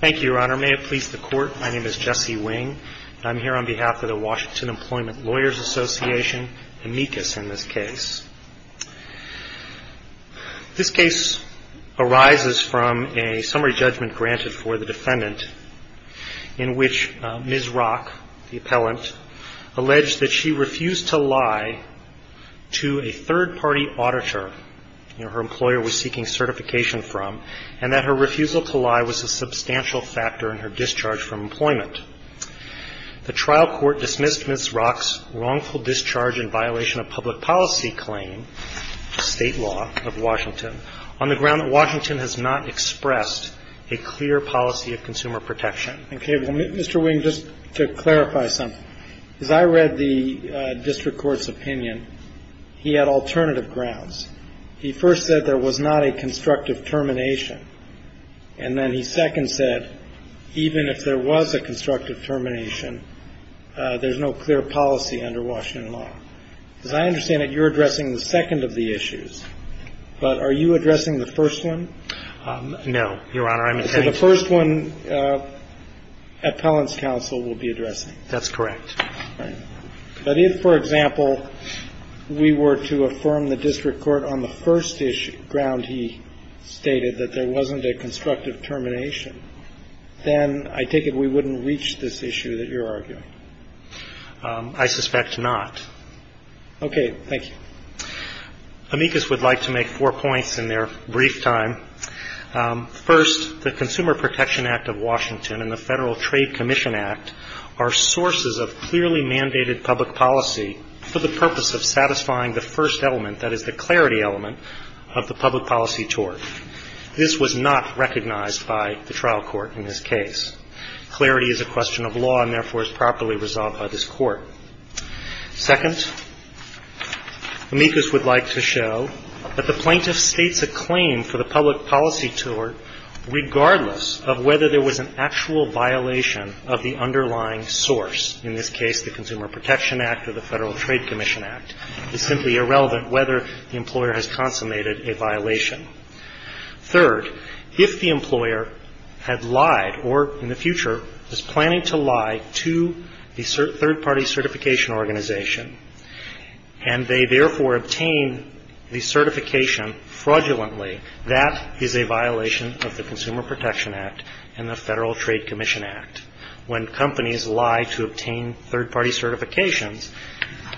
Thank you, Your Honor. May it please the Court, my name is Jesse Wing and I'm here on behalf of the Washington Employment Lawyers Association, amicus in this case. This case arises from a summary judgment granted for the defendant in which Ms. Rock, the appellant, alleged that she refused to lie to a third-party auditor her employer was seeking certification from, and that her refusal to lie was a substantial factor in her discharge from employment. The trial court dismissed Ms. Rock's wrongful discharge in violation of public policy claim, state law of Washington, on the ground that Washington has not expressed a clear policy of consumer protection. Mr. Wing, just to clarify something, as I read the district court's opinion, he had alternative grounds. He first said there was not a constructive termination, and then he second said even if there was a constructive termination, there's no clear policy under Washington law. As I understand it, you're addressing the second of the issues, but are you addressing the first one? No, Your Honor. So the first one appellant's counsel will be addressing. That's correct. All right. But if, for example, we were to affirm the district court on the first issue, ground he stated, that there wasn't a constructive termination, then I take it we wouldn't reach this issue that you're arguing. I suspect not. Okay. Thank you. Amicus would like to make four points in their brief time. First, the Consumer Protection Act of Washington and the Federal Trade Commission Act are sources of clearly mandated public policy for the purpose of satisfying the first element, that is the clarity element, of the public policy tort. This was not recognized by the trial court in this case. Clarity is a question of law and, therefore, is properly resolved by this court. Second, Amicus would like to show that the plaintiff states a claim for the public policy tort, regardless of whether there was an actual violation of the underlying source. In this case, the Consumer Protection Act or the Federal Trade Commission Act. It's simply irrelevant whether the employer has consummated a violation. Third, if the employer had lied or, in the future, is planning to lie to the third-party certification organization and they, therefore, obtain the certification fraudulently, that is a violation of the Consumer Protection Act and the Federal Trade Commission Act. When companies lie to obtain third-party certifications,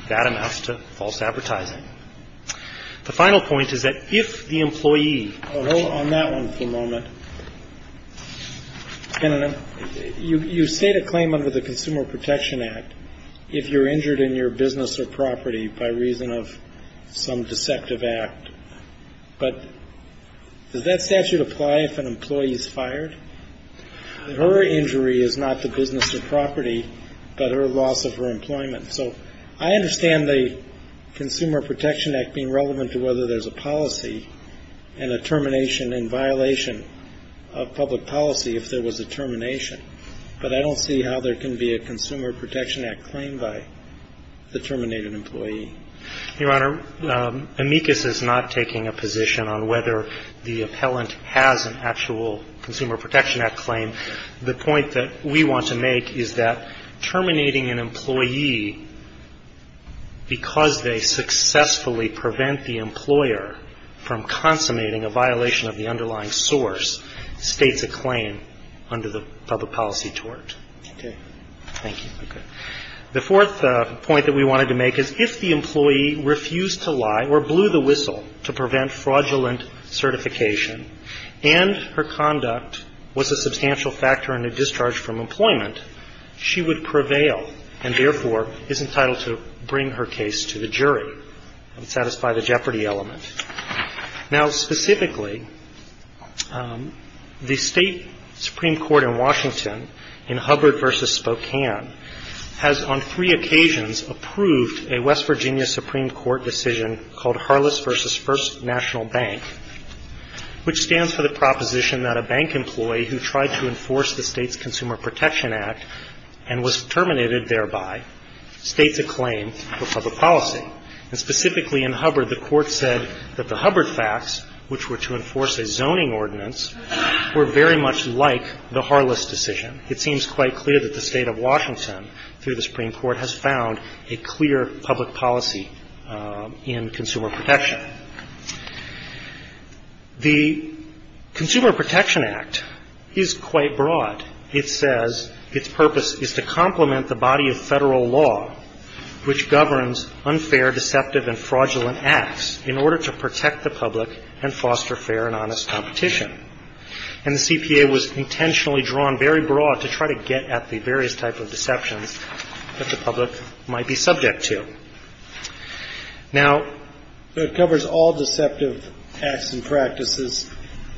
that amounts to false advertising. The final point is that if the employee. Hold on that one for a moment. You state a claim under the Consumer Protection Act if you're injured in your business or property by reason of some deceptive act. But does that statute apply if an employee is fired? Her injury is not the business or property, but her loss of her employment. So I understand the Consumer Protection Act being relevant to whether there's a policy and a termination in violation of public policy if there was a termination. But I don't see how there can be a Consumer Protection Act claim by the terminated employee. Your Honor, amicus is not taking a position on whether the appellant has an actual Consumer Protection Act claim. The point that we want to make is that terminating an employee because they successfully prevent the employer from consummating a violation of the underlying source states a claim under the public policy tort. Okay. Thank you. Okay. The fourth point that we wanted to make is if the employee refused to lie or blew the whistle to prevent fraudulent certification and her conduct was a substantial factor in a discharge from employment, she would prevail and therefore is entitled to bring her case to the jury and satisfy the jeopardy element. Now, specifically, the State Supreme Court in Washington in Hubbard v. Spokane has on three occasions approved a West Virginia Supreme Court decision called Harless v. First National Bank. Which stands for the proposition that a bank employee who tried to enforce the State's Consumer Protection Act and was terminated thereby states a claim for public policy. And specifically in Hubbard, the Court said that the Hubbard facts, which were to enforce a zoning ordinance, were very much like the Harless decision. It seems quite clear that the State of Washington through the Supreme Court has found a clear public policy in Consumer Protection. The Consumer Protection Act is quite broad. It says its purpose is to complement the body of Federal law which governs unfair, deceptive, and fraudulent acts in order to protect the public and foster fair and honest competition. And the CPA was intentionally drawn very broad to try to get at the various types of deceptions that the public might be subject to. Now, it covers all deceptive acts and practices.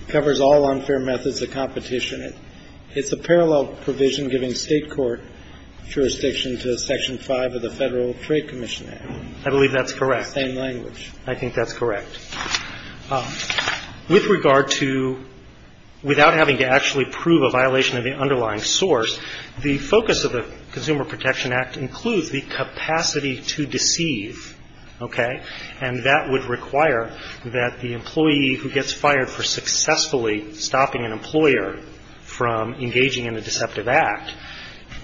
It covers all unfair methods of competition. It's a parallel provision giving State court jurisdiction to Section 5 of the Federal Trade Commission Act. I believe that's correct. The same language. I think that's correct. With regard to without having to actually prove a violation of the underlying source, the focus of the Consumer Protection Act includes the capacity to deceive. Okay? And that would require that the employee who gets fired for successfully stopping an employer from engaging in a deceptive act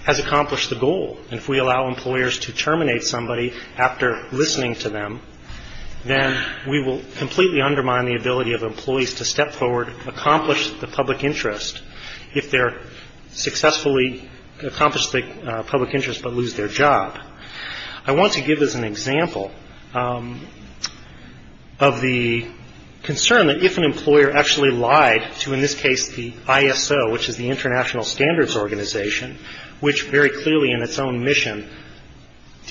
has accomplished the goal. And if we allow employers to terminate somebody after listening to them, then we will completely undermine the ability of employees to step forward, accomplish the public interest, if they're successfully accomplished the public interest but lose their job. I want to give as an example of the concern that if an employer actually lied to, in this case, the ISO, which is the International Standards Organization, which very clearly in its own mission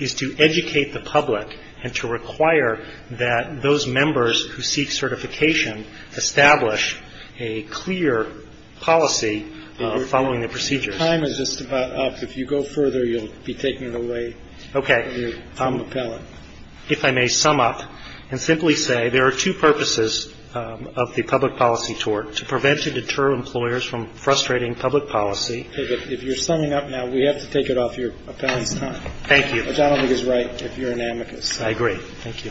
is to educate the public and to require that those members who seek certification establish a clear policy following the procedures. Your time is just about up. If you go further, you'll be taking it away from your time appellate. Okay. If I may sum up and simply say there are two purposes of the public policy tort, to prevent and deter employers from frustrating public policy. Okay. But if you're summing up now, we have to take it off your appellate's time. Thank you. The gentleman is right if you're an amicus. I agree. Thank you.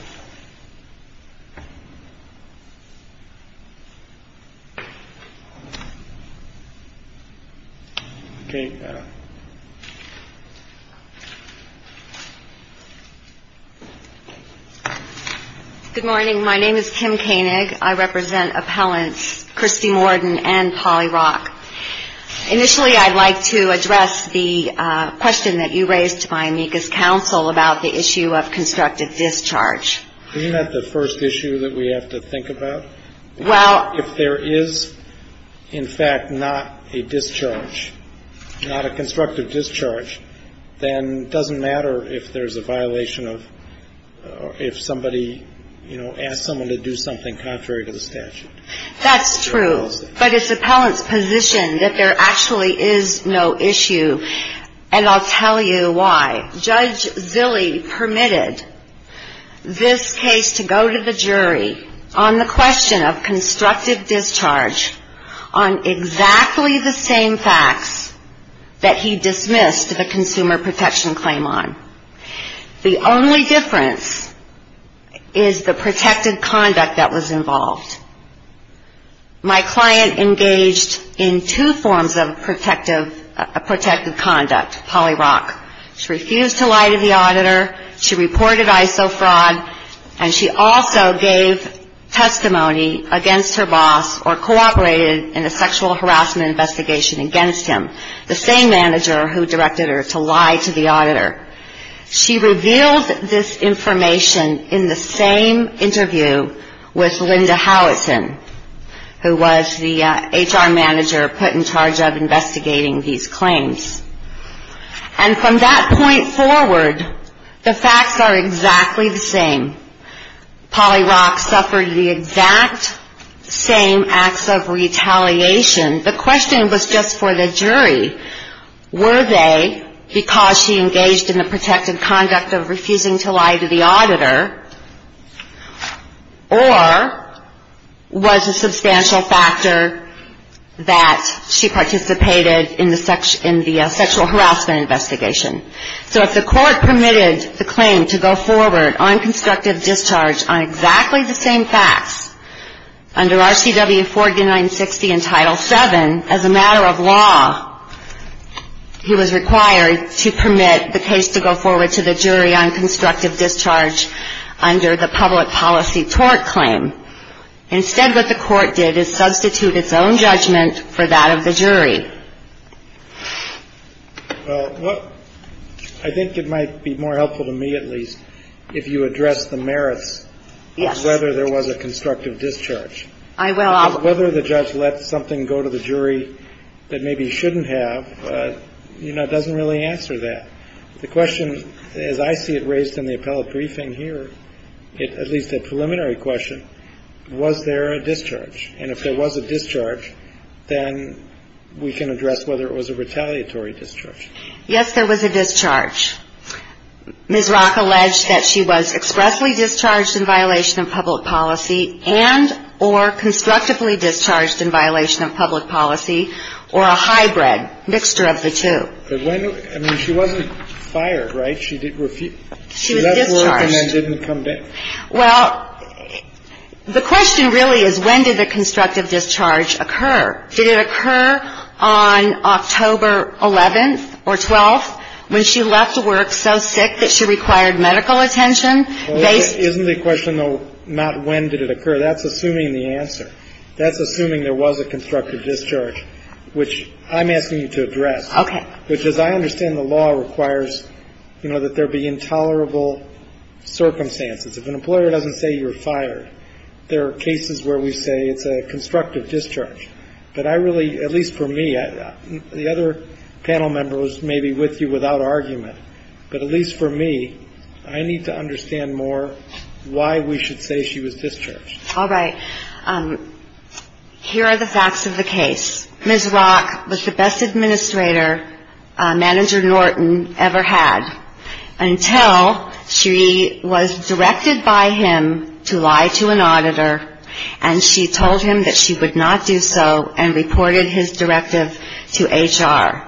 Okay. Good morning. My name is Kim Koenig. I represent appellants Christy Morden and Polly Rock. Initially, I'd like to address the question that you raised by amicus counsel about the issue of constructive discharge. Isn't that the first issue that we have to think about? Well. If there is, in fact, not a discharge, not a constructive discharge, then it doesn't matter if there's a violation of or if somebody, you know, asks someone to do something contrary to the statute. That's true. But it's appellant's position that there actually is no issue, and I'll tell you why. Judge Zilley permitted this case to go to the jury on the question of constructive discharge on exactly the same facts that he dismissed the consumer protection claim on. The only difference is the protected conduct that was involved. My client engaged in two forms of protective conduct, Polly Rock. She refused to lie to the auditor. She reported ISO fraud, and she also gave testimony against her boss or cooperated in a sexual harassment investigation against him, the same manager who directed her to lie to the auditor. She revealed this information in the same interview with Linda Howitson, who was the HR manager put in charge of investigating these claims. And from that point forward, the facts are exactly the same. Polly Rock suffered the exact same acts of retaliation. The question was just for the jury. Were they because she engaged in the protected conduct of refusing to lie to the auditor or was a substantial factor that she participated in the sexual harassment investigation? So if the court permitted the claim to go forward on constructive discharge on exactly the same facts, under RCW 4960 in Title VII, as a matter of law, he was required to permit the case to go forward to the jury on constructive discharge under the public policy tort claim. Instead, what the court did is substitute its own judgment for that of the jury. Well, I think it might be more helpful to me, at least, if you address the merits of whether there was a constructive discharge. Whether the judge let something go to the jury that maybe he shouldn't have, you know, doesn't really answer that. The question, as I see it raised in the appellate briefing here, at least a preliminary question, was there a discharge? And if there was a discharge, then we can address whether it was a retaliatory discharge. Yes, there was a discharge. Ms. Rock alleged that she was expressly discharged in violation of public policy and or constructively discharged in violation of public policy, or a hybrid, mixture of the two. But when? I mean, she wasn't fired, right? She did refuse. She was discharged. She left work and then didn't come back. Well, the question really is when did the constructive discharge occur? Did it occur on October 11th or 12th when she left work so sick that she required medical attention? Isn't the question, though, not when did it occur? That's assuming the answer. That's assuming there was a constructive discharge, which I'm asking you to address. Okay. Which, as I understand the law, requires, you know, that there be intolerable circumstances. If an employer doesn't say you were fired, there are cases where we say it's a constructive discharge. But I really, at least for me, the other panel members may be with you without argument, but at least for me, I need to understand more why we should say she was discharged. All right. Here are the facts of the case. Ms. Rock was the best administrator Manager Norton ever had until she was directed by him to lie to an auditor, and she told him that she would not do so and reported his directive to HR.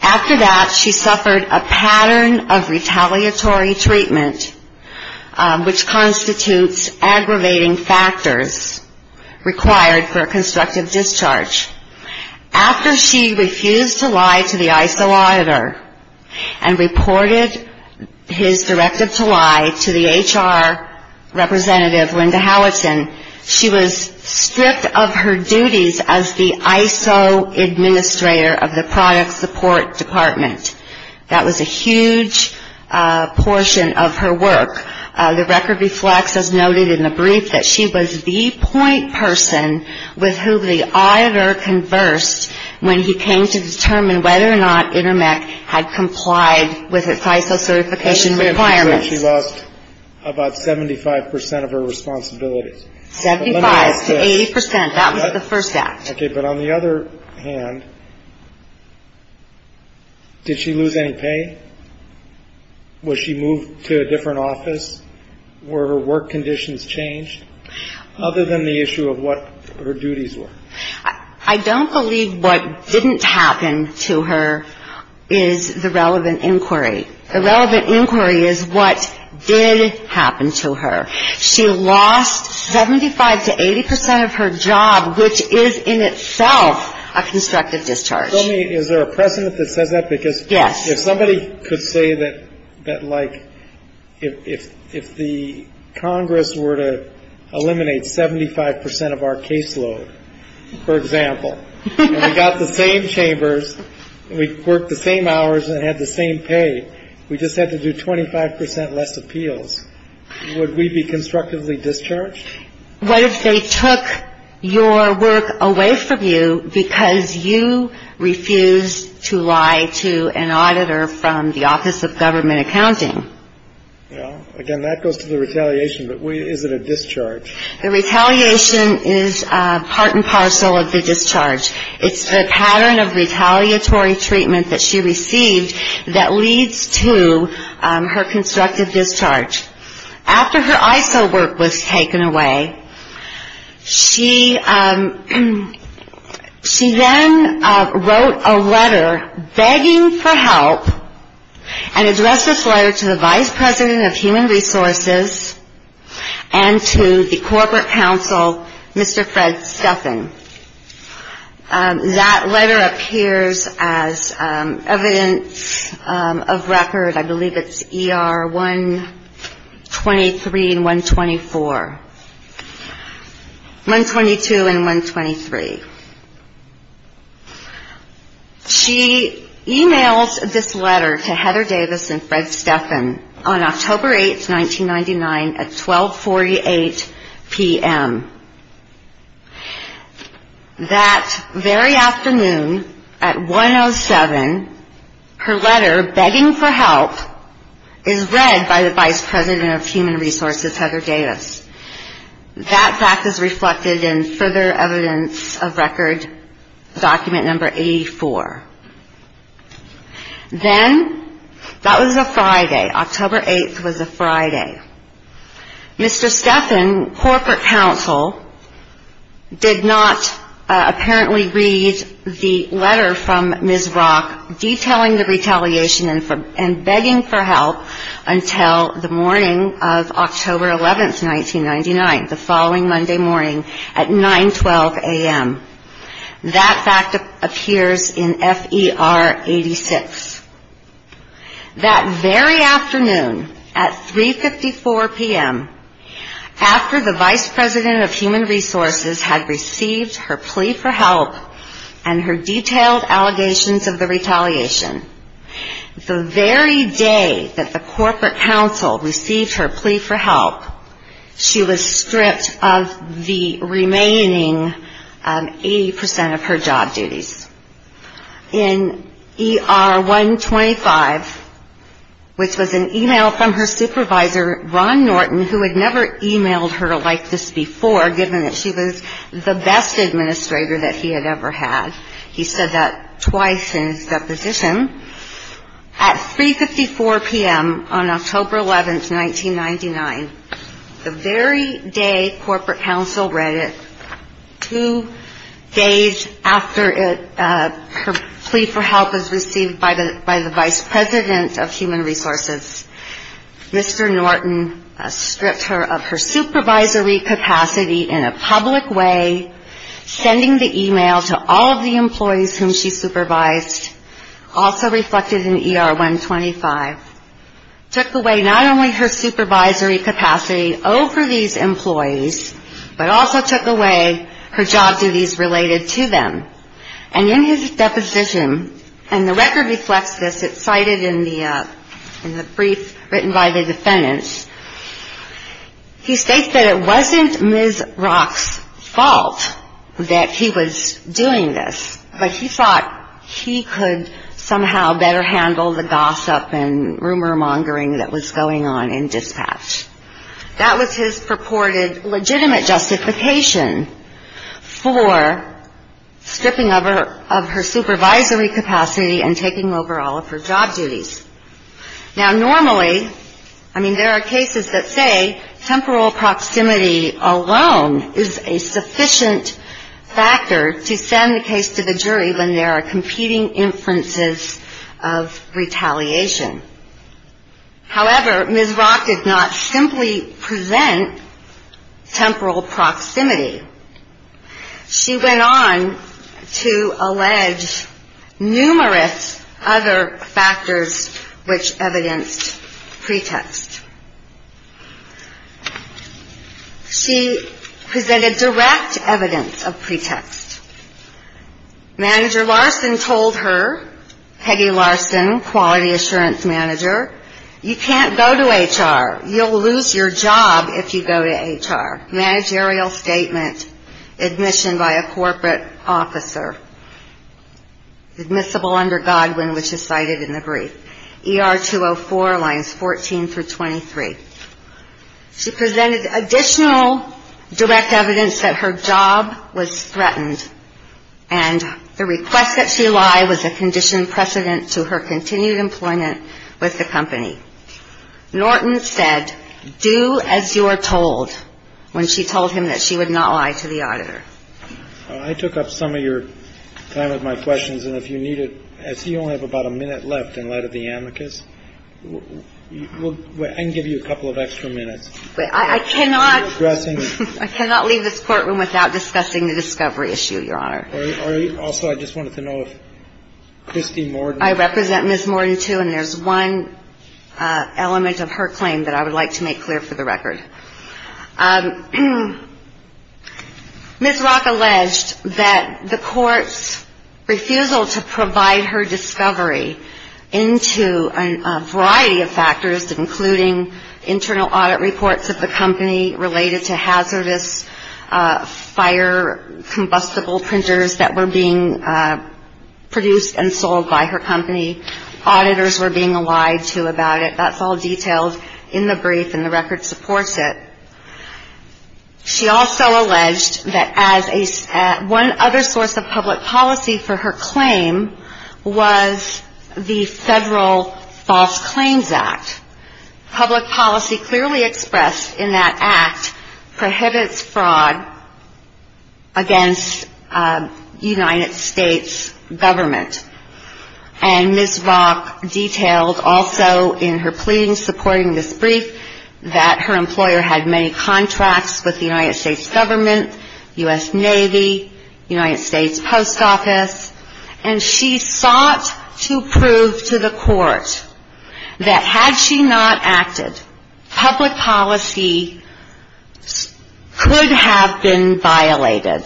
After that, she suffered a pattern of retaliatory treatment, which constitutes aggravating factors required for a constructive discharge. After she refused to lie to the ISO auditor and reported his directive to lie to the HR representative, Linda Howitson, she was stripped of her duties as the ISO Administrator of the Product Support Department. That was a huge portion of her work. The record reflects, as noted in the brief, that she was the point person with whom the auditor conversed when he came to determine whether or not Intermec had complied with its ISO certification requirements. She lost about 75 percent of her responsibilities. Seventy-five to 80 percent. That was the first act. Okay. But on the other hand, did she lose any pay? Was she moved to a different office? Were her work conditions changed? Other than the issue of what her duties were. I don't believe what didn't happen to her is the relevant inquiry. The relevant inquiry is what did happen to her. She lost 75 to 80 percent of her job, which is in itself a constructive discharge. Tell me, is there a precedent that says that? Yes. If somebody could say that, like, if the Congress were to eliminate 75 percent of our caseload, for example, and we got the same chambers and we worked the same hours and had the same pay, we just had to do 25 percent less appeals, would we be constructively discharged? What if they took your work away from you because you refused to lie to an auditor from the Office of Government Accounting? Well, again, that goes to the retaliation, but is it a discharge? The retaliation is part and parcel of the discharge. It's the pattern of retaliatory treatment that she received that leads to her constructive discharge. After her ISO work was taken away, she then wrote a letter begging for help and addressed this letter to the Vice President of Human Resources and to the corporate counsel, Mr. Fred Stuffin. That letter appears as evidence of record. I believe it's ER 123 and 124, 122 and 123. She emails this letter to Heather Davis and Fred Stuffin on October 8, 1999, at 1248 p.m. That very afternoon at 107, her letter begging for help is read by the Vice President of Human Resources, Heather Davis. That fact is reflected in further evidence of record, document number 84. Then, that was a Friday, October 8th was a Friday. Mr. Stuffin, corporate counsel, did not apparently read the letter from Ms. Rock detailing the retaliation and begging for help until the morning of October 11th, 1999, the following Monday morning at 912 a.m. That fact appears in FER 86. That very afternoon at 354 p.m., after the Vice President of Human Resources had received her plea for help and her detailed allegations of the retaliation, the very day that the corporate counsel received her plea for help, she was stripped of the remaining 80 percent of her job duties. In ER 125, which was an email from her supervisor, Ron Norton, who had never emailed her like this before, given that she was the best administrator that he had ever had. He said that twice in his deposition. At 354 p.m. on October 11th, 1999, the very day corporate counsel read it, two days after her plea for help was received by the Vice President of Human Resources, Mr. Norton stripped her of her supervisory capacity in a public way, sending the email to all of the employees whom she supervised, also reflected in ER 125, took away not only her supervisory capacity over these employees, but also took away her job duties related to them. And in his deposition, and the record reflects this, it's cited in the brief written by the defendants, he states that it wasn't Ms. Rock's fault that he was doing this, but he thought he could somehow better handle the gossip and rumor mongering that was going on in dispatch. That was his purported legitimate justification for stripping of her supervisory capacity and taking over all of her job duties. Now, normally, I mean, there are cases that say temporal proximity alone is a sufficient factor to send a case to the jury when there are competing inferences of retaliation. However, Ms. Rock did not simply present temporal proximity. She went on to allege numerous other factors which evidenced pretext. She presented direct evidence of pretext. Manager Larson told her, Peggy Larson, Quality Assurance Manager, you can't go to HR. You'll lose your job if you go to HR. Managerial statement, admission by a corporate officer, admissible under Godwin, which is cited in the brief. ER 204 lines 14 through 23. She presented additional direct evidence that her job was threatened, and the request that she lie was a conditioned precedent to her continued employment with the company. Norton said, do as you are told, when she told him that she would not lie to the auditor. I took up some of your time with my questions, and if you need it, I see you only have about a minute left in light of the amicus. I can give you a couple of extra minutes. I cannot leave this courtroom without discussing the discovery issue, Your Honor. Also, I just wanted to know if Kristi Morden. I represent Ms. Morden, too, and there's one element of her claim that I would like to make clear for the record. Ms. Rock alleged that the court's refusal to provide her discovery into a variety of factors, including internal audit reports of the company related to hazardous fire combustible printers that were being produced and sold by her company. Auditors were being lied to about it. That's all detailed in the brief, and the record supports it. She also alleged that one other source of public policy for her claim was the Federal False Claims Act. Public policy clearly expressed in that act prohibits fraud against United States government, and Ms. Rock detailed also in her pleading supporting this brief that her employer had many contracts with the United States government, U.S. Navy, United States Post Office, and she sought to prove to the court that had she not acted, public policy could have been violated.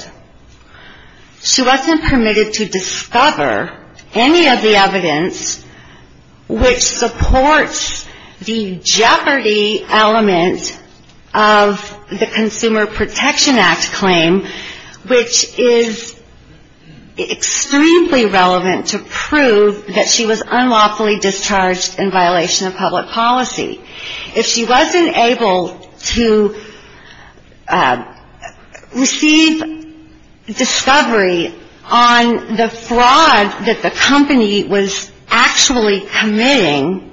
She wasn't permitted to discover any of the evidence which supports the jeopardy element of the Consumer Protection Act claim, which is extremely relevant to prove that she was unlawfully discharged in violation of public policy. If she wasn't able to receive discovery on the fraud that the company was actually committing,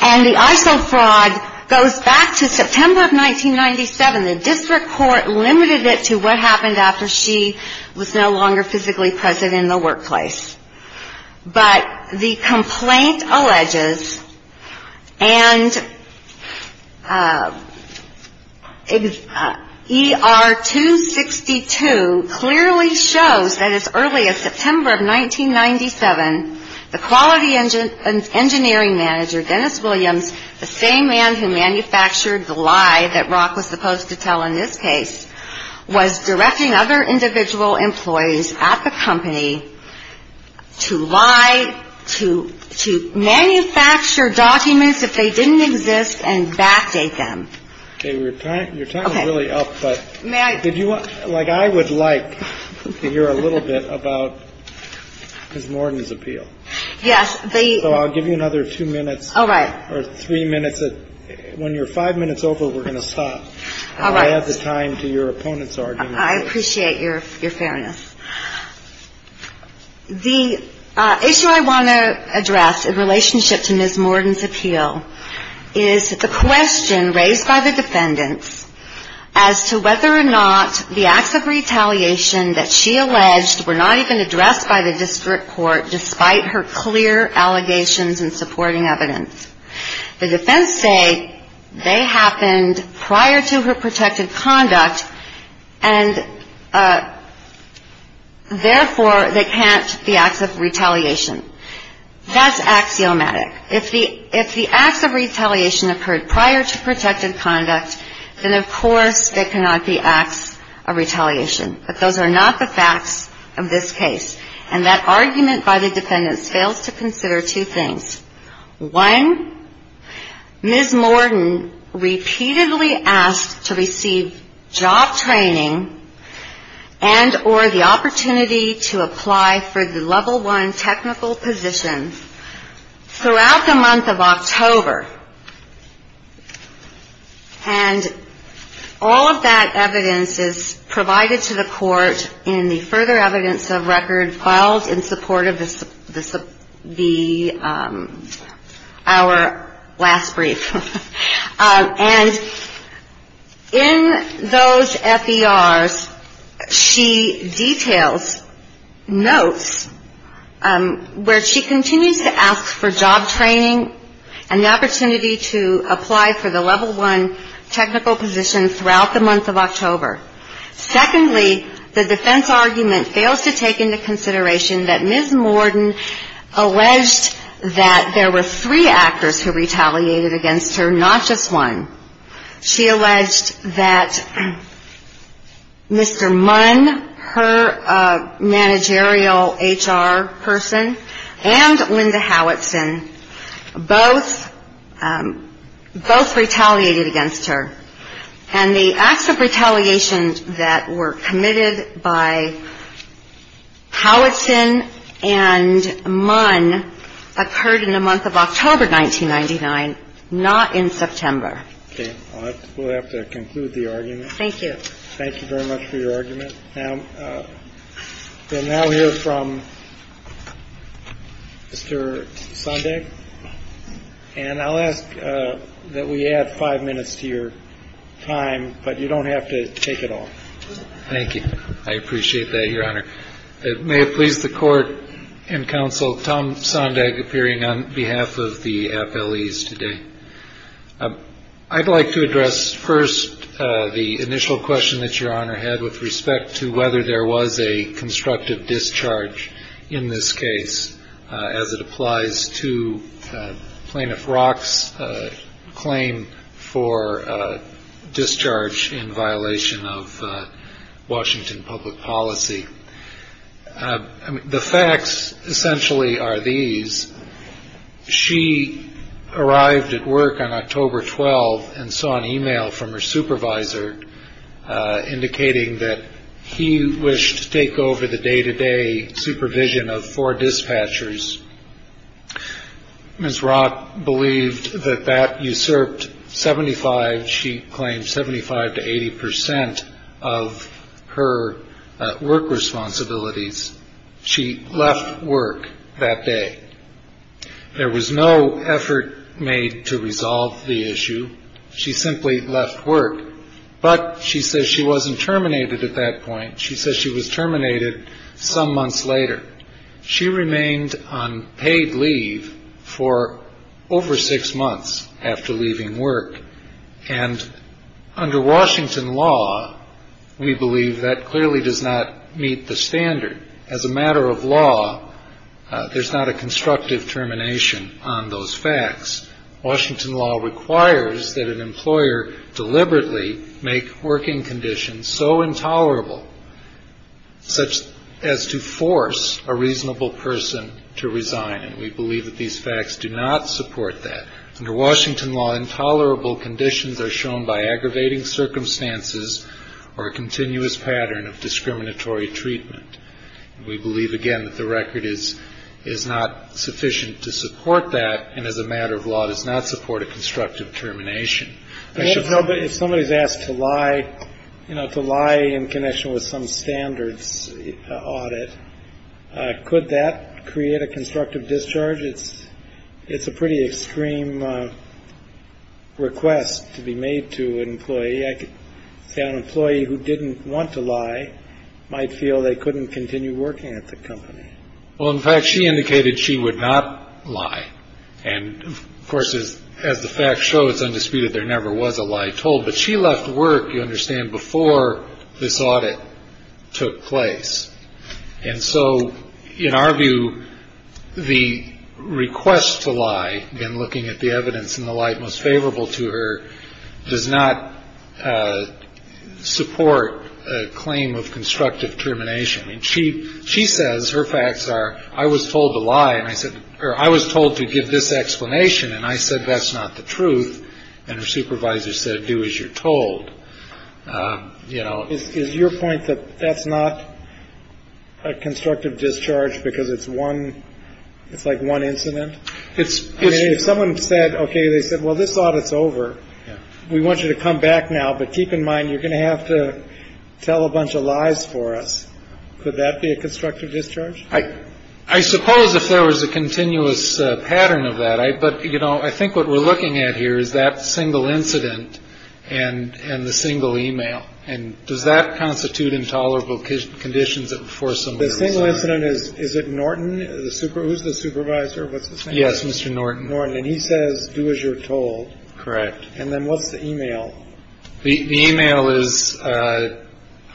and the ISO fraud goes back to September of 1997. The district court limited it to what happened after she was no longer physically present in the workplace. But the complaint alleges, and ER-262 clearly shows that as early as September of 1997, the quality engineering manager, Dennis Williams, the same man who manufactured the lie that Rock was supposed to tell in this case, was directing other individual employees at the company to lie, to manufacture documents if they didn't exist, and backdate them. Your time is really up, but I would like to hear a little bit about Ms. Morgan's appeal. Yes. So I'll give you another two minutes. All right. Or three minutes. When you're five minutes over, we're going to stop. All right. And I'll add the time to your opponent's argument. I appreciate your fairness. The issue I want to address in relationship to Ms. Morgan's appeal is the question raised by the defendants as to whether or not the acts of retaliation that she alleged were not even addressed by the district court despite her clear allegations in supporting evidence. The defense say they happened prior to her protected conduct, and therefore, they can't be acts of retaliation. That's axiomatic. If the acts of retaliation occurred prior to protected conduct, then, of course, they cannot be acts of retaliation. But those are not the facts of this case. And that argument by the defendants fails to consider two things. One, Ms. Morgan repeatedly asked to receive job training and or the opportunity to apply for the level one technical position throughout the month of October. And all of that evidence is provided to the court in the further evidence of record filed in support of our last brief. And in those FERs, she details notes where she continues to ask for job training and the opportunity to apply for the level one technical position throughout the month of October. Secondly, the defense argument fails to take into consideration that Ms. Morgan alleged that there were three actors who retaliated against her, not just one. She alleged that Mr. Munn, her managerial HR person, and Linda Howitson both retaliated against her. And the acts of retaliation that were committed by Howitson and Munn occurred in the month of October 1999, not in September. Okay. We'll have to conclude the argument. Thank you. Thank you very much for your argument. We'll now hear from Mr. Sondag. And I'll ask that we add five minutes to your time, but you don't have to take it all. Thank you. I appreciate that, Your Honor. May it please the court and counsel, Tom Sondag appearing on behalf of the FLEs today. I'd like to address first the initial question that Your Honor had with respect to whether there was a constructive discharge in this case, as it applies to Plaintiff Rock's claim for discharge in violation of Washington public policy. The facts essentially are these. She arrived at work on October 12 and saw an e-mail from her supervisor indicating that he wished to take over the day-to-day supervision of four dispatchers. Ms. Rock believed that that usurped 75, she claimed 75 to 80 percent of her work responsibilities. She left work that day. There was no effort made to resolve the issue. She simply left work. But she says she wasn't terminated at that point. She says she was terminated some months later. She remained on paid leave for over six months after leaving work. And under Washington law, we believe that clearly does not meet the standard. As a matter of law, there's not a constructive termination on those facts. Washington law requires that an employer deliberately make working conditions so intolerable such as to force a reasonable person to resign. And we believe that these facts do not support that. Under Washington law, intolerable conditions are shown by aggravating circumstances or a continuous pattern of discriminatory treatment. We believe, again, that the record is not sufficient to support that. And as a matter of law, it does not support a constructive termination. If somebody is asked to lie, you know, to lie in connection with some standards audit, could that create a constructive discharge? It's a pretty extreme request to be made to an employee. I could say an employee who didn't want to lie might feel they couldn't continue working at the company. Well, in fact, she indicated she would not lie. And, of course, as the facts show, it's undisputed there never was a lie told. But she left work, you understand, before this audit took place. And so in our view, the request to lie, again, looking at the evidence in the light most favorable to her, does not support a claim of constructive termination. I mean, she says her facts are, I was told to lie, and I said, or I was told to give this explanation, and I said that's not the truth. And her supervisor said, do as you're told. You know, is your point that that's not a constructive discharge because it's one it's like one incident? It's if someone said, OK, they said, well, this audit's over. We want you to come back now. But keep in mind, you're going to have to tell a bunch of lies for us. Could that be a constructive discharge? I suppose if there was a continuous pattern of that. Right. But, you know, I think what we're looking at here is that single incident and and the single email. And does that constitute intolerable conditions for some of the single incident? Is it Norton, the supervisor? Who's the supervisor? Yes, Mr. Norton. Norton. And he says, do as you're told. Correct. And then what's the email? The email is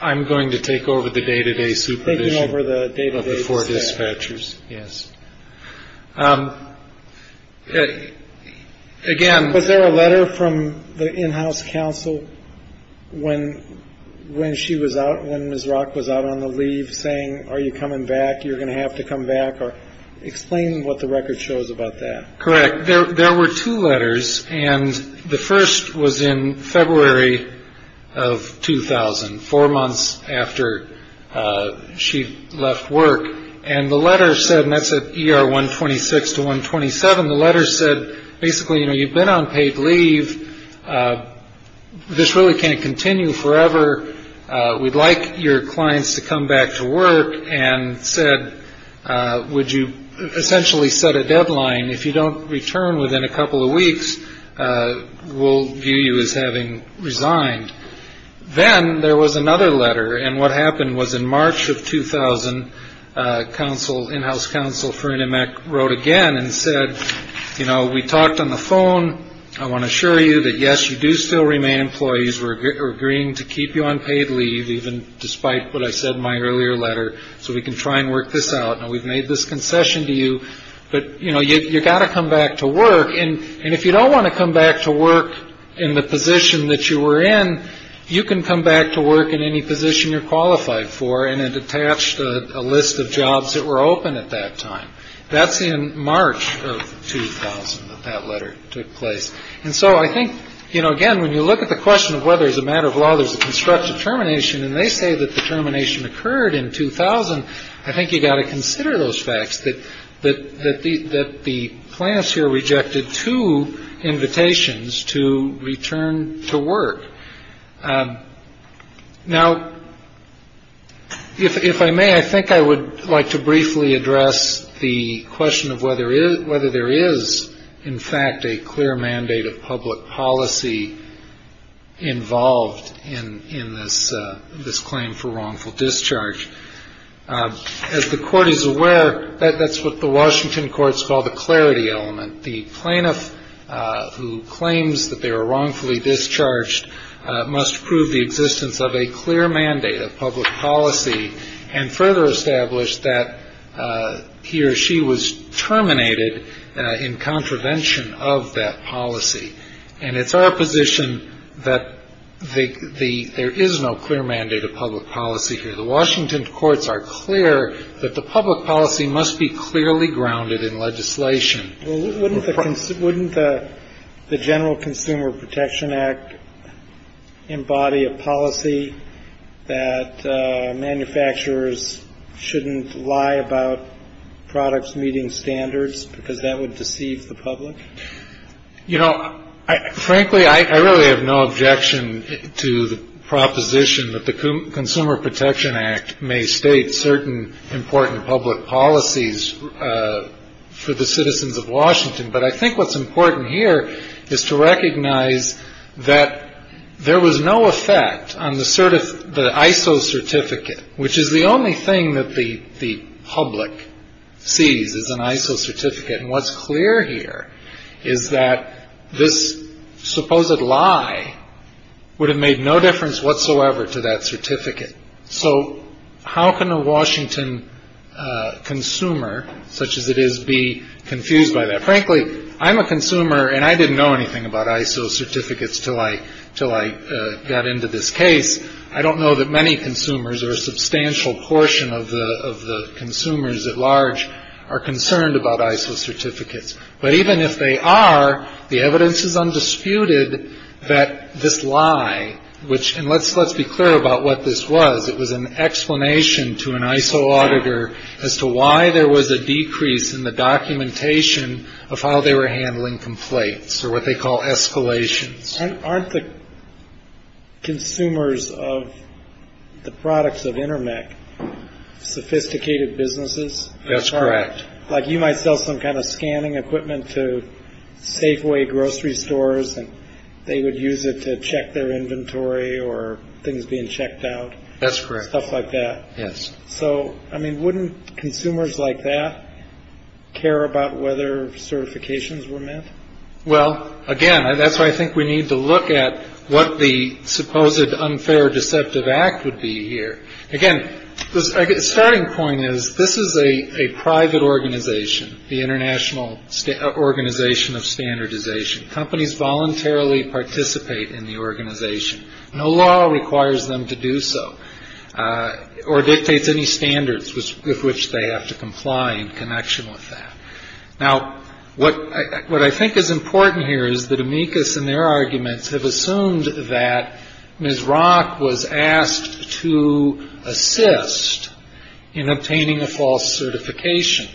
I'm going to take over the day to day supervision over the day before dispatchers. Yes. Again, was there a letter from the in-house counsel when when she was out, when Ms. Rock was out on the leave saying, are you coming back? You're going to have to come back. Or explain what the record shows about that. Correct. There were two letters and the first was in February of 2000, four months after she left work. And the letter said that's a year one twenty six to one twenty seven. The letter said basically, you know, you've been on paid leave. This really can't continue forever. We'd like your clients to come back to work and said, would you essentially set a deadline? If you don't return within a couple of weeks, we'll view you as having resigned. Then there was another letter. And what happened was in March of 2000, counsel in-house counsel for NMAC wrote again and said, you know, we talked on the phone. I want to assure you that, yes, you do still remain employees. We're agreeing to keep you on paid leave, even despite what I said in my earlier letter. So we can try and work this out. And we've made this concession to you. But, you know, you've got to come back to work. And if you don't want to come back to work in the position that you were in, you can come back to work in any position you're qualified for. And it attached a list of jobs that were open at that time. That's in March of 2000 that that letter took place. And so I think, you know, again, when you look at the question of whether it's a matter of law, there's a constructive termination and they say that the termination occurred in 2000. I think you've got to consider those facts that that that the that the plants here rejected two invitations to return to work. Now, if I may, I think I would like to briefly address the question of whether is whether there is, in fact, a clear mandate of public policy involved in in this this claim for wrongful discharge. As the court is aware that that's what the Washington courts call the clarity element. The plaintiff who claims that they were wrongfully discharged must prove the existence of a clear mandate of public policy and further establish that he or she was terminated in contravention of that policy. And it's our position that the there is no clear mandate of public policy here. The Washington courts are clear that the public policy must be clearly grounded in legislation. Wouldn't the general Consumer Protection Act embody a policy that manufacturers shouldn't lie about products meeting standards because that would deceive the public? You know, frankly, I really have no objection to the proposition that the Consumer Protection Act may state certain important public policies. For the citizens of Washington. But I think what's important here is to recognize that there was no effect on the sort of the ISO certificate, which is the only thing that the the public sees is an ISO certificate. And what's clear here is that this supposed lie would have made no difference whatsoever to that certificate. So how can a Washington consumer such as it is be confused by that? Frankly, I'm a consumer and I didn't know anything about ISO certificates till I till I got into this case. I don't know that many consumers or a substantial portion of the of the consumers at large are concerned about ISO certificates. But even if they are, the evidence is undisputed that this lie, which and let's let's be clear about what this was. It was an explanation to an ISO auditor as to why there was a decrease in the documentation of how they were handling complaints or what they call escalations. Aren't the consumers of the products of Intermec sophisticated businesses? That's correct. Like you might sell some kind of scanning equipment to Safeway grocery stores and they would use it to check their inventory or things being checked out. That's correct. Stuff like that. Yes. So, I mean, wouldn't consumers like that care about whether certifications were met? Well, again, that's why I think we need to look at what the supposed unfair deceptive act would be here again. The starting point is this is a private organization, the International Organization of Standardization. Companies voluntarily participate in the organization. No law requires them to do so or dictates any standards with which they have to comply in connection with that. Now, what what I think is important here is that amicus and their arguments have assumed that Ms. Rock was asked to assist in obtaining a false certification,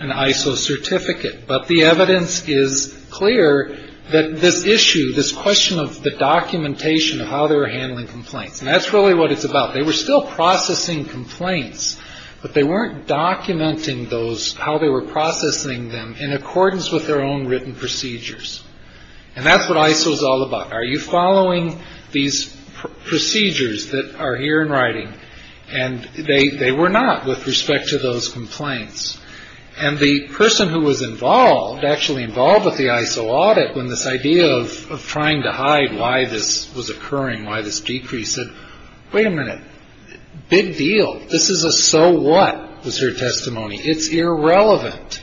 an ISO certificate. But the evidence is clear that this issue, this question of the documentation of how they were handling complaints, and that's really what it's about. They were still processing complaints, but they weren't documenting those, how they were processing them in accordance with their own written procedures. And that's what ISO is all about. Are you following these procedures that are here in writing? And they were not with respect to those complaints. And the person who was involved, actually involved with the ISO audit, when this idea of trying to hide why this was occurring, why this decrease, said, wait a minute, big deal. This is a so what was her testimony. It's irrelevant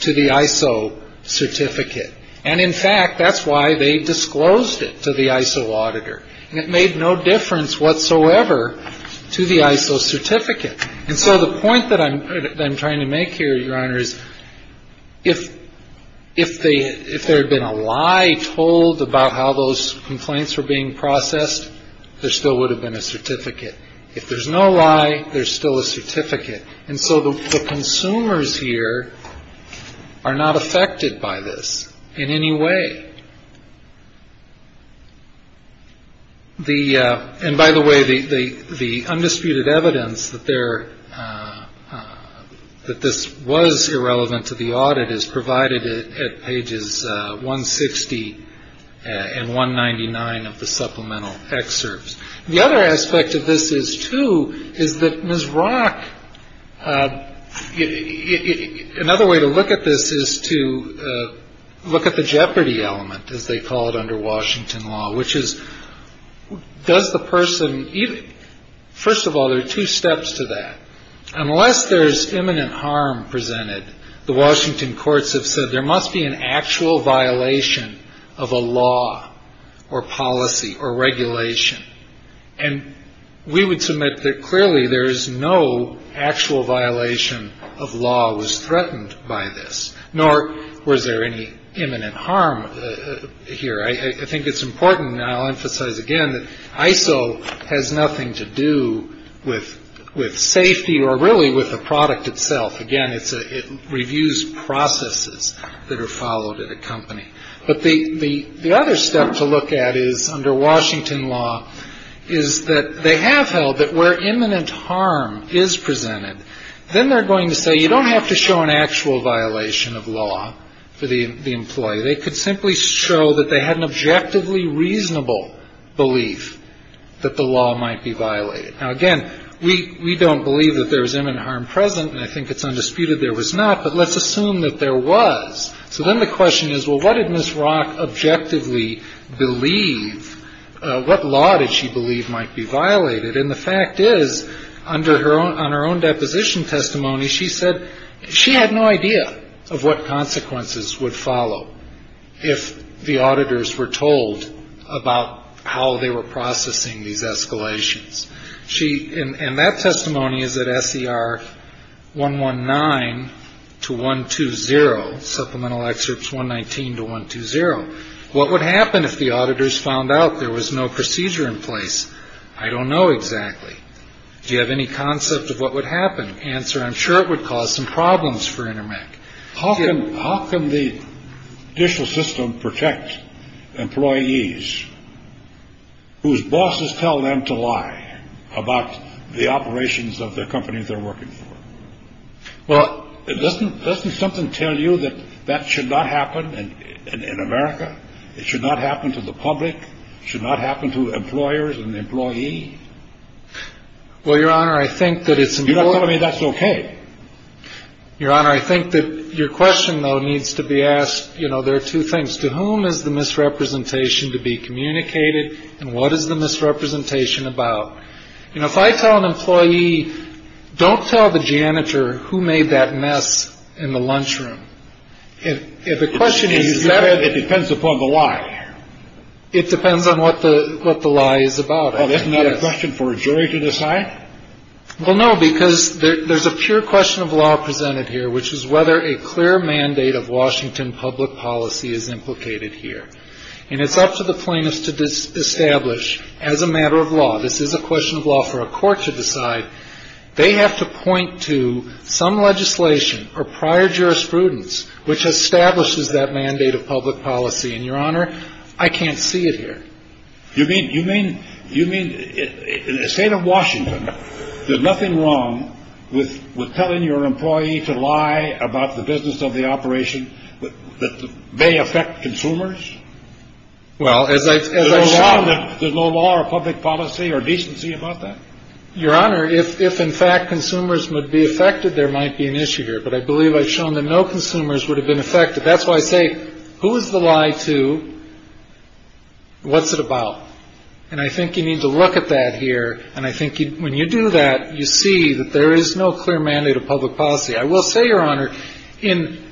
to the ISO certificate. And in fact, that's why they disclosed it to the ISO auditor. And it made no difference whatsoever to the ISO certificate. And so the point that I'm trying to make here, Your Honor, is if if they if there had been a lie told about how those complaints were being processed, there still would have been a certificate. If there's no lie, there's still a certificate. And so the consumers here are not affected by this in any way. The and by the way, the the the undisputed evidence that there that this was irrelevant to the audit is provided at pages 160 and 199 of the supplemental excerpts. The other aspect of this is, too, is that Ms. Rock. Another way to look at this is to look at the jeopardy element, as they call it under Washington law, which is does the person. First of all, there are two steps to that. Unless there's imminent harm presented. The Washington courts have said there must be an actual violation of a law or policy or regulation. And we would submit that clearly there is no actual violation of law was threatened by this. Nor was there any imminent harm here. I think it's important. I'll emphasize again that ISO has nothing to do with with safety or really with the product itself. Again, it's it reviews processes that are followed at a company. But the the the other step to look at is under Washington law is that they have held that where imminent harm is presented, then they're going to say you don't have to show an actual violation of law for the employee. They could simply show that they had an objectively reasonable belief that the law might be violated. Now, again, we we don't believe that there is imminent harm present, and I think it's undisputed there was not. But let's assume that there was. So then the question is, well, what did Ms. Rock objectively believe? What law did she believe might be violated? And the fact is, under her own on her own deposition testimony, she said she had no idea of what consequences would follow if the auditors were told about how they were processing these escalations. She and that testimony is that S.E.R. 1 1 9 to 1 2 0 supplemental excerpts 1 19 to 1 2 0. What would happen if the auditors found out there was no procedure in place? I don't know exactly. Do you have any concept of what would happen? Answer I'm sure it would cause some problems for Intermec. How can how can the judicial system protect employees whose bosses tell them to lie about the operations of the companies they're working for? Well, it doesn't doesn't something tell you that that should not happen. And in America, it should not happen to the public, should not happen to employers and employees. Well, Your Honor, I think that it's you know, I mean, that's OK. Your Honor, I think that your question, though, needs to be asked. You know, there are two things to whom is the misrepresentation to be communicated. And what is the misrepresentation about? You know, if I tell an employee, don't tell the janitor who made that mess in the lunchroom. If the question is that it depends upon the lie, it depends on what the what the lie is about. And that's not a question for a jury to decide. Well, no, because there's a pure question of law presented here, which is whether a clear mandate of Washington public policy is implicated here. And it's up to the plaintiffs to establish as a matter of law. This is a question of law for a court to decide. They have to point to some legislation or prior jurisprudence which establishes that mandate of public policy. And your honor, I can't see it here. You mean you mean you mean in the state of Washington, there's nothing wrong with telling your employee to lie about the business of the operation that may affect consumers? Well, as I as I saw, there's no law or public policy or decency about that. Your honor, if if in fact consumers would be affected, there might be an issue here. But I believe I've shown that no consumers would have been affected. That's why I say who is the lie to. What's it about? And I think you need to look at that here. And I think when you do that, you see that there is no clear mandate of public policy. I will say, your honor, in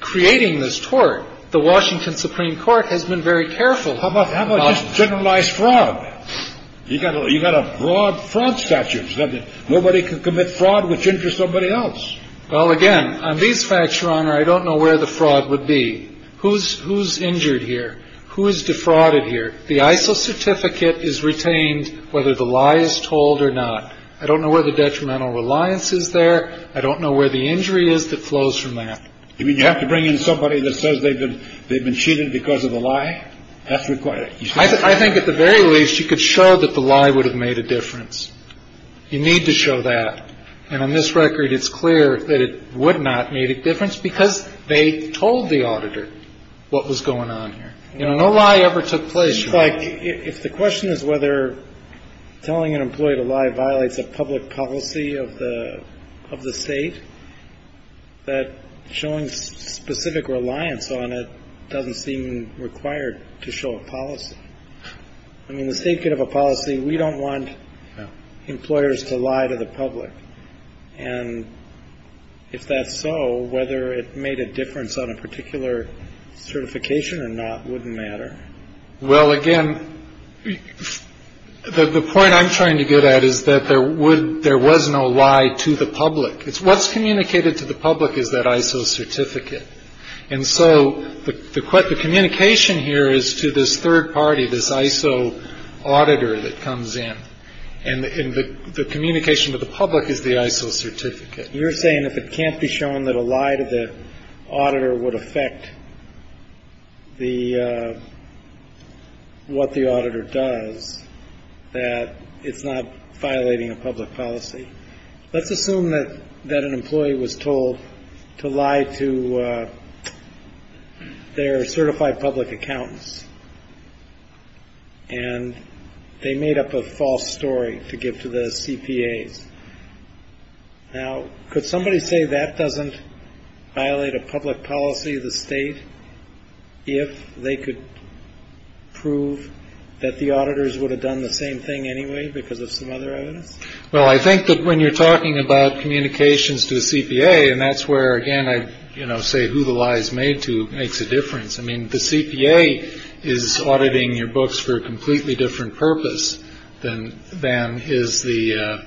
creating this tort, the Washington Supreme Court has been very careful. How about generalized fraud? You've got to you've got a broad front statute that nobody can commit fraud which interests somebody else. Well, again, on these facts, your honor, I don't know where the fraud would be. Who's who's injured here? Who is defrauded here? The ISO certificate is retained whether the lie is told or not. I don't know where the detrimental reliance is there. I don't know where the injury is that flows from that. I mean, you have to bring in somebody that says they've been they've been cheated because of a lie. That's required. I think at the very least, you could show that the lie would have made a difference. You need to show that. And on this record, it's clear that it would not make a difference because they told the auditor what was going on here. You know, no lie ever took place. It seems like if the question is whether telling an employee to lie violates a public policy of the of the state, that showing specific reliance on it doesn't seem required to show a policy. I mean, the state could have a policy. We don't want employers to lie to the public. And if that's so, whether it made a difference on a particular certification or not wouldn't matter. Well, again, the point I'm trying to get at is that there would there was no lie to the public. It's what's communicated to the public is that ISO certificate. And so the communication here is to this third party, this ISO auditor that comes in. And the communication to the public is the ISO certificate. You're saying if it can't be shown that a lie to the auditor would affect. The what the auditor does, that it's not violating a public policy. Let's assume that that an employee was told to lie to their certified public accountants. And they made up a false story to give to the CPAs. Now, could somebody say that doesn't violate a public policy of the state? If they could prove that the auditors would have done the same thing anyway because of some other evidence? Well, I think that when you're talking about communications to the CPA and that's where, again, I say who the lies made to makes a difference. I mean, the CPA is auditing your books for a completely different purpose than than is the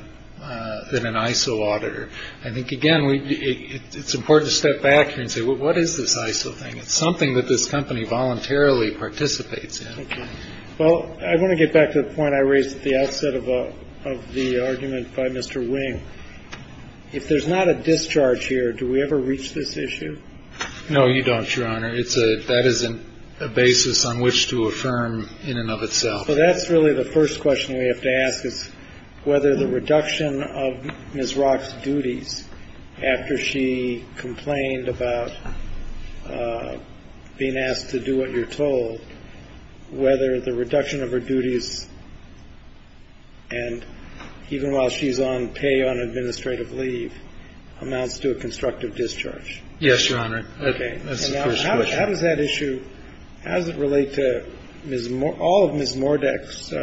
than an ISO auditor. I think, again, it's important to step back and say, well, what is this ISO thing? It's something that this company voluntarily participates in. Well, I want to get back to the point I raised at the outset of the argument by Mr. Wing. If there's not a discharge here, do we ever reach this issue? No, you don't, Your Honor. It's a that isn't a basis on which to affirm in and of itself. That's really the first question we have to ask is whether the reduction of Ms. Rock's duties after she complained about being asked to do what you're told, whether the reduction of her duties. And even while she's on pay on administrative leave amounts to a constructive discharge. Yes, Your Honor. How does that issue? How does it relate to all of Ms. Mordek's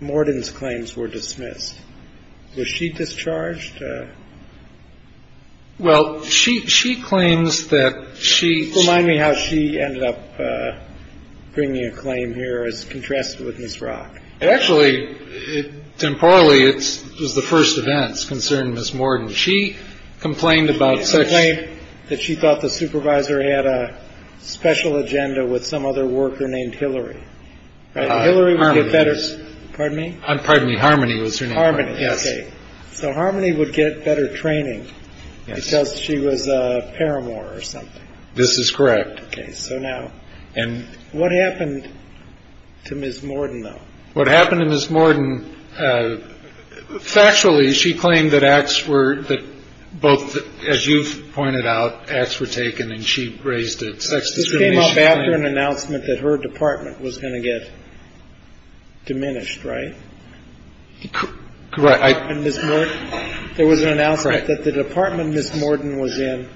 Morden's claims were dismissed. Was she discharged? Well, she she claims that she. Remind me how she ended up bringing a claim here as contrasted with Ms. Rock. Actually, temporarily, it was the first events concern Ms. Morden. She complained about saying that she thought the supervisor had a special agenda with some other worker named Hillary. And Hillary was better. Pardon me. Pardon me. Harmony was an army. Yes. So Harmony would get better training because she was a paramour or something. This is correct. So now. And what happened to Ms. Morden, though, what happened to Ms. Morden? Factually, she claimed that acts were that both, as you've pointed out, acts were taken and she raised it. This came up after an announcement that her department was going to get diminished, right? Correct. There was an announcement that the department Ms. Morden was in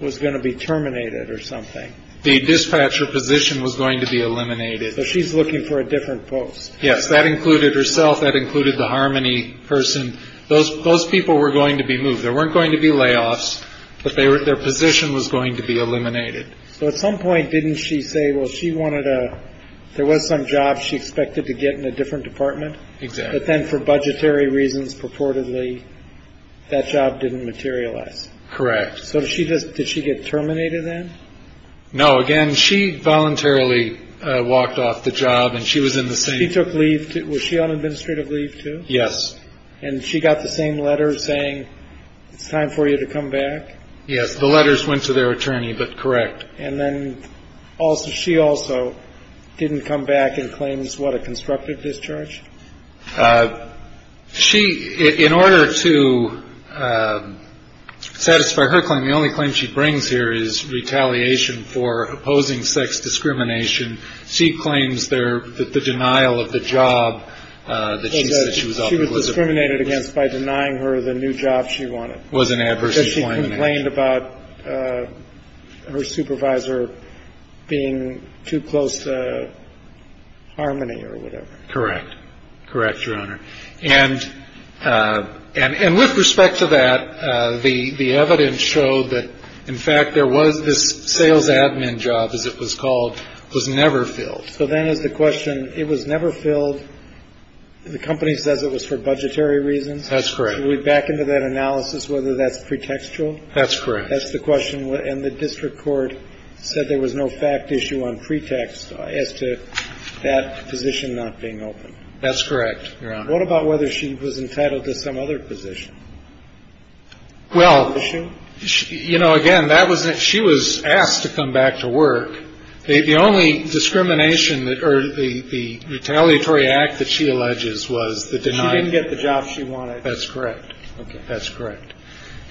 was going to be terminated or something. The dispatcher position was going to be eliminated. She's looking for a different post. Yes. That included herself. That included the harmony person. Those those people were going to be moved. There weren't going to be layoffs, but they were their position was going to be eliminated. So at some point, didn't she say, well, she wanted to there was some job she expected to get in a different department. But then for budgetary reasons, purportedly, that job didn't materialize. Correct. So she just did she get terminated then? No. Again, she voluntarily walked off the job and she was in the same took leave. Was she on administrative leave, too? Yes. And she got the same letter saying it's time for you to come back. Yes. The letters went to their attorney. But correct. And then also she also didn't come back and claims what a constructive discharge. She in order to satisfy her claim. The only claim she brings here is retaliation for opposing sex discrimination. She claims there that the denial of the job that she was discriminated against by denying her the new job. She was an adverse complaint about her supervisor being too close to harmony or whatever. Correct. Correct. Your Honor. And and with respect to that, the evidence showed that, in fact, there was this sales admin job, as it was called, was never filled. So then is the question. It was never filled. The company says it was for budgetary reasons. That's correct. We back into that analysis, whether that's pretextual. That's correct. That's the question. And the district court said there was no fact issue on pretext as to that position not being open. That's correct. What about whether she was entitled to some other position? Well, you know, again, that was that she was asked to come back to work. The only discrimination that the retaliatory act that she alleges was that she didn't get the job she wanted. That's correct. That's correct.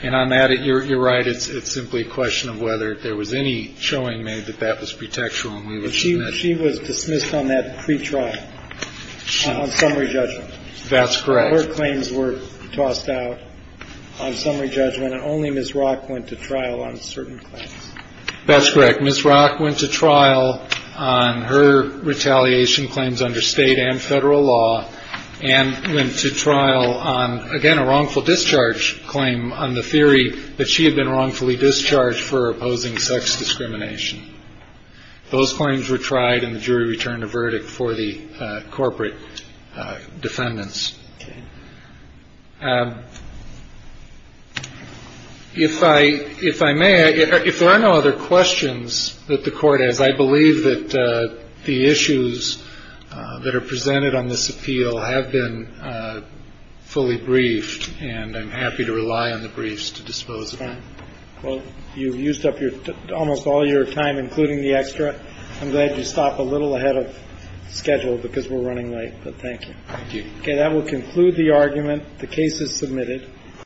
And I'm at it. You're right. It's simply a question of whether there was any showing made that that was pretextual. She was dismissed on that pretrial summary judgment. That's correct. Her claims were tossed out on summary judgment. And only Ms. Rock went to trial on certain claims. That's correct. Ms. Rock went to trial on her retaliation claims under state and federal law and went to trial on, again, a wrongful discharge claim on the theory that she had been wrongfully discharged for opposing sex discrimination. Those claims were tried and the jury returned a verdict for the corporate defendants. If I if I may, if there are no other questions that the court has, I believe that the issues that are presented on this appeal have been fully briefed, and I'm happy to rely on the briefs to dispose of them. Well, you've used up your almost all your time, including the extra. I'm glad you stopped a little ahead of schedule because we're running late. But thank you. Okay. That will conclude the argument. The case is submitted.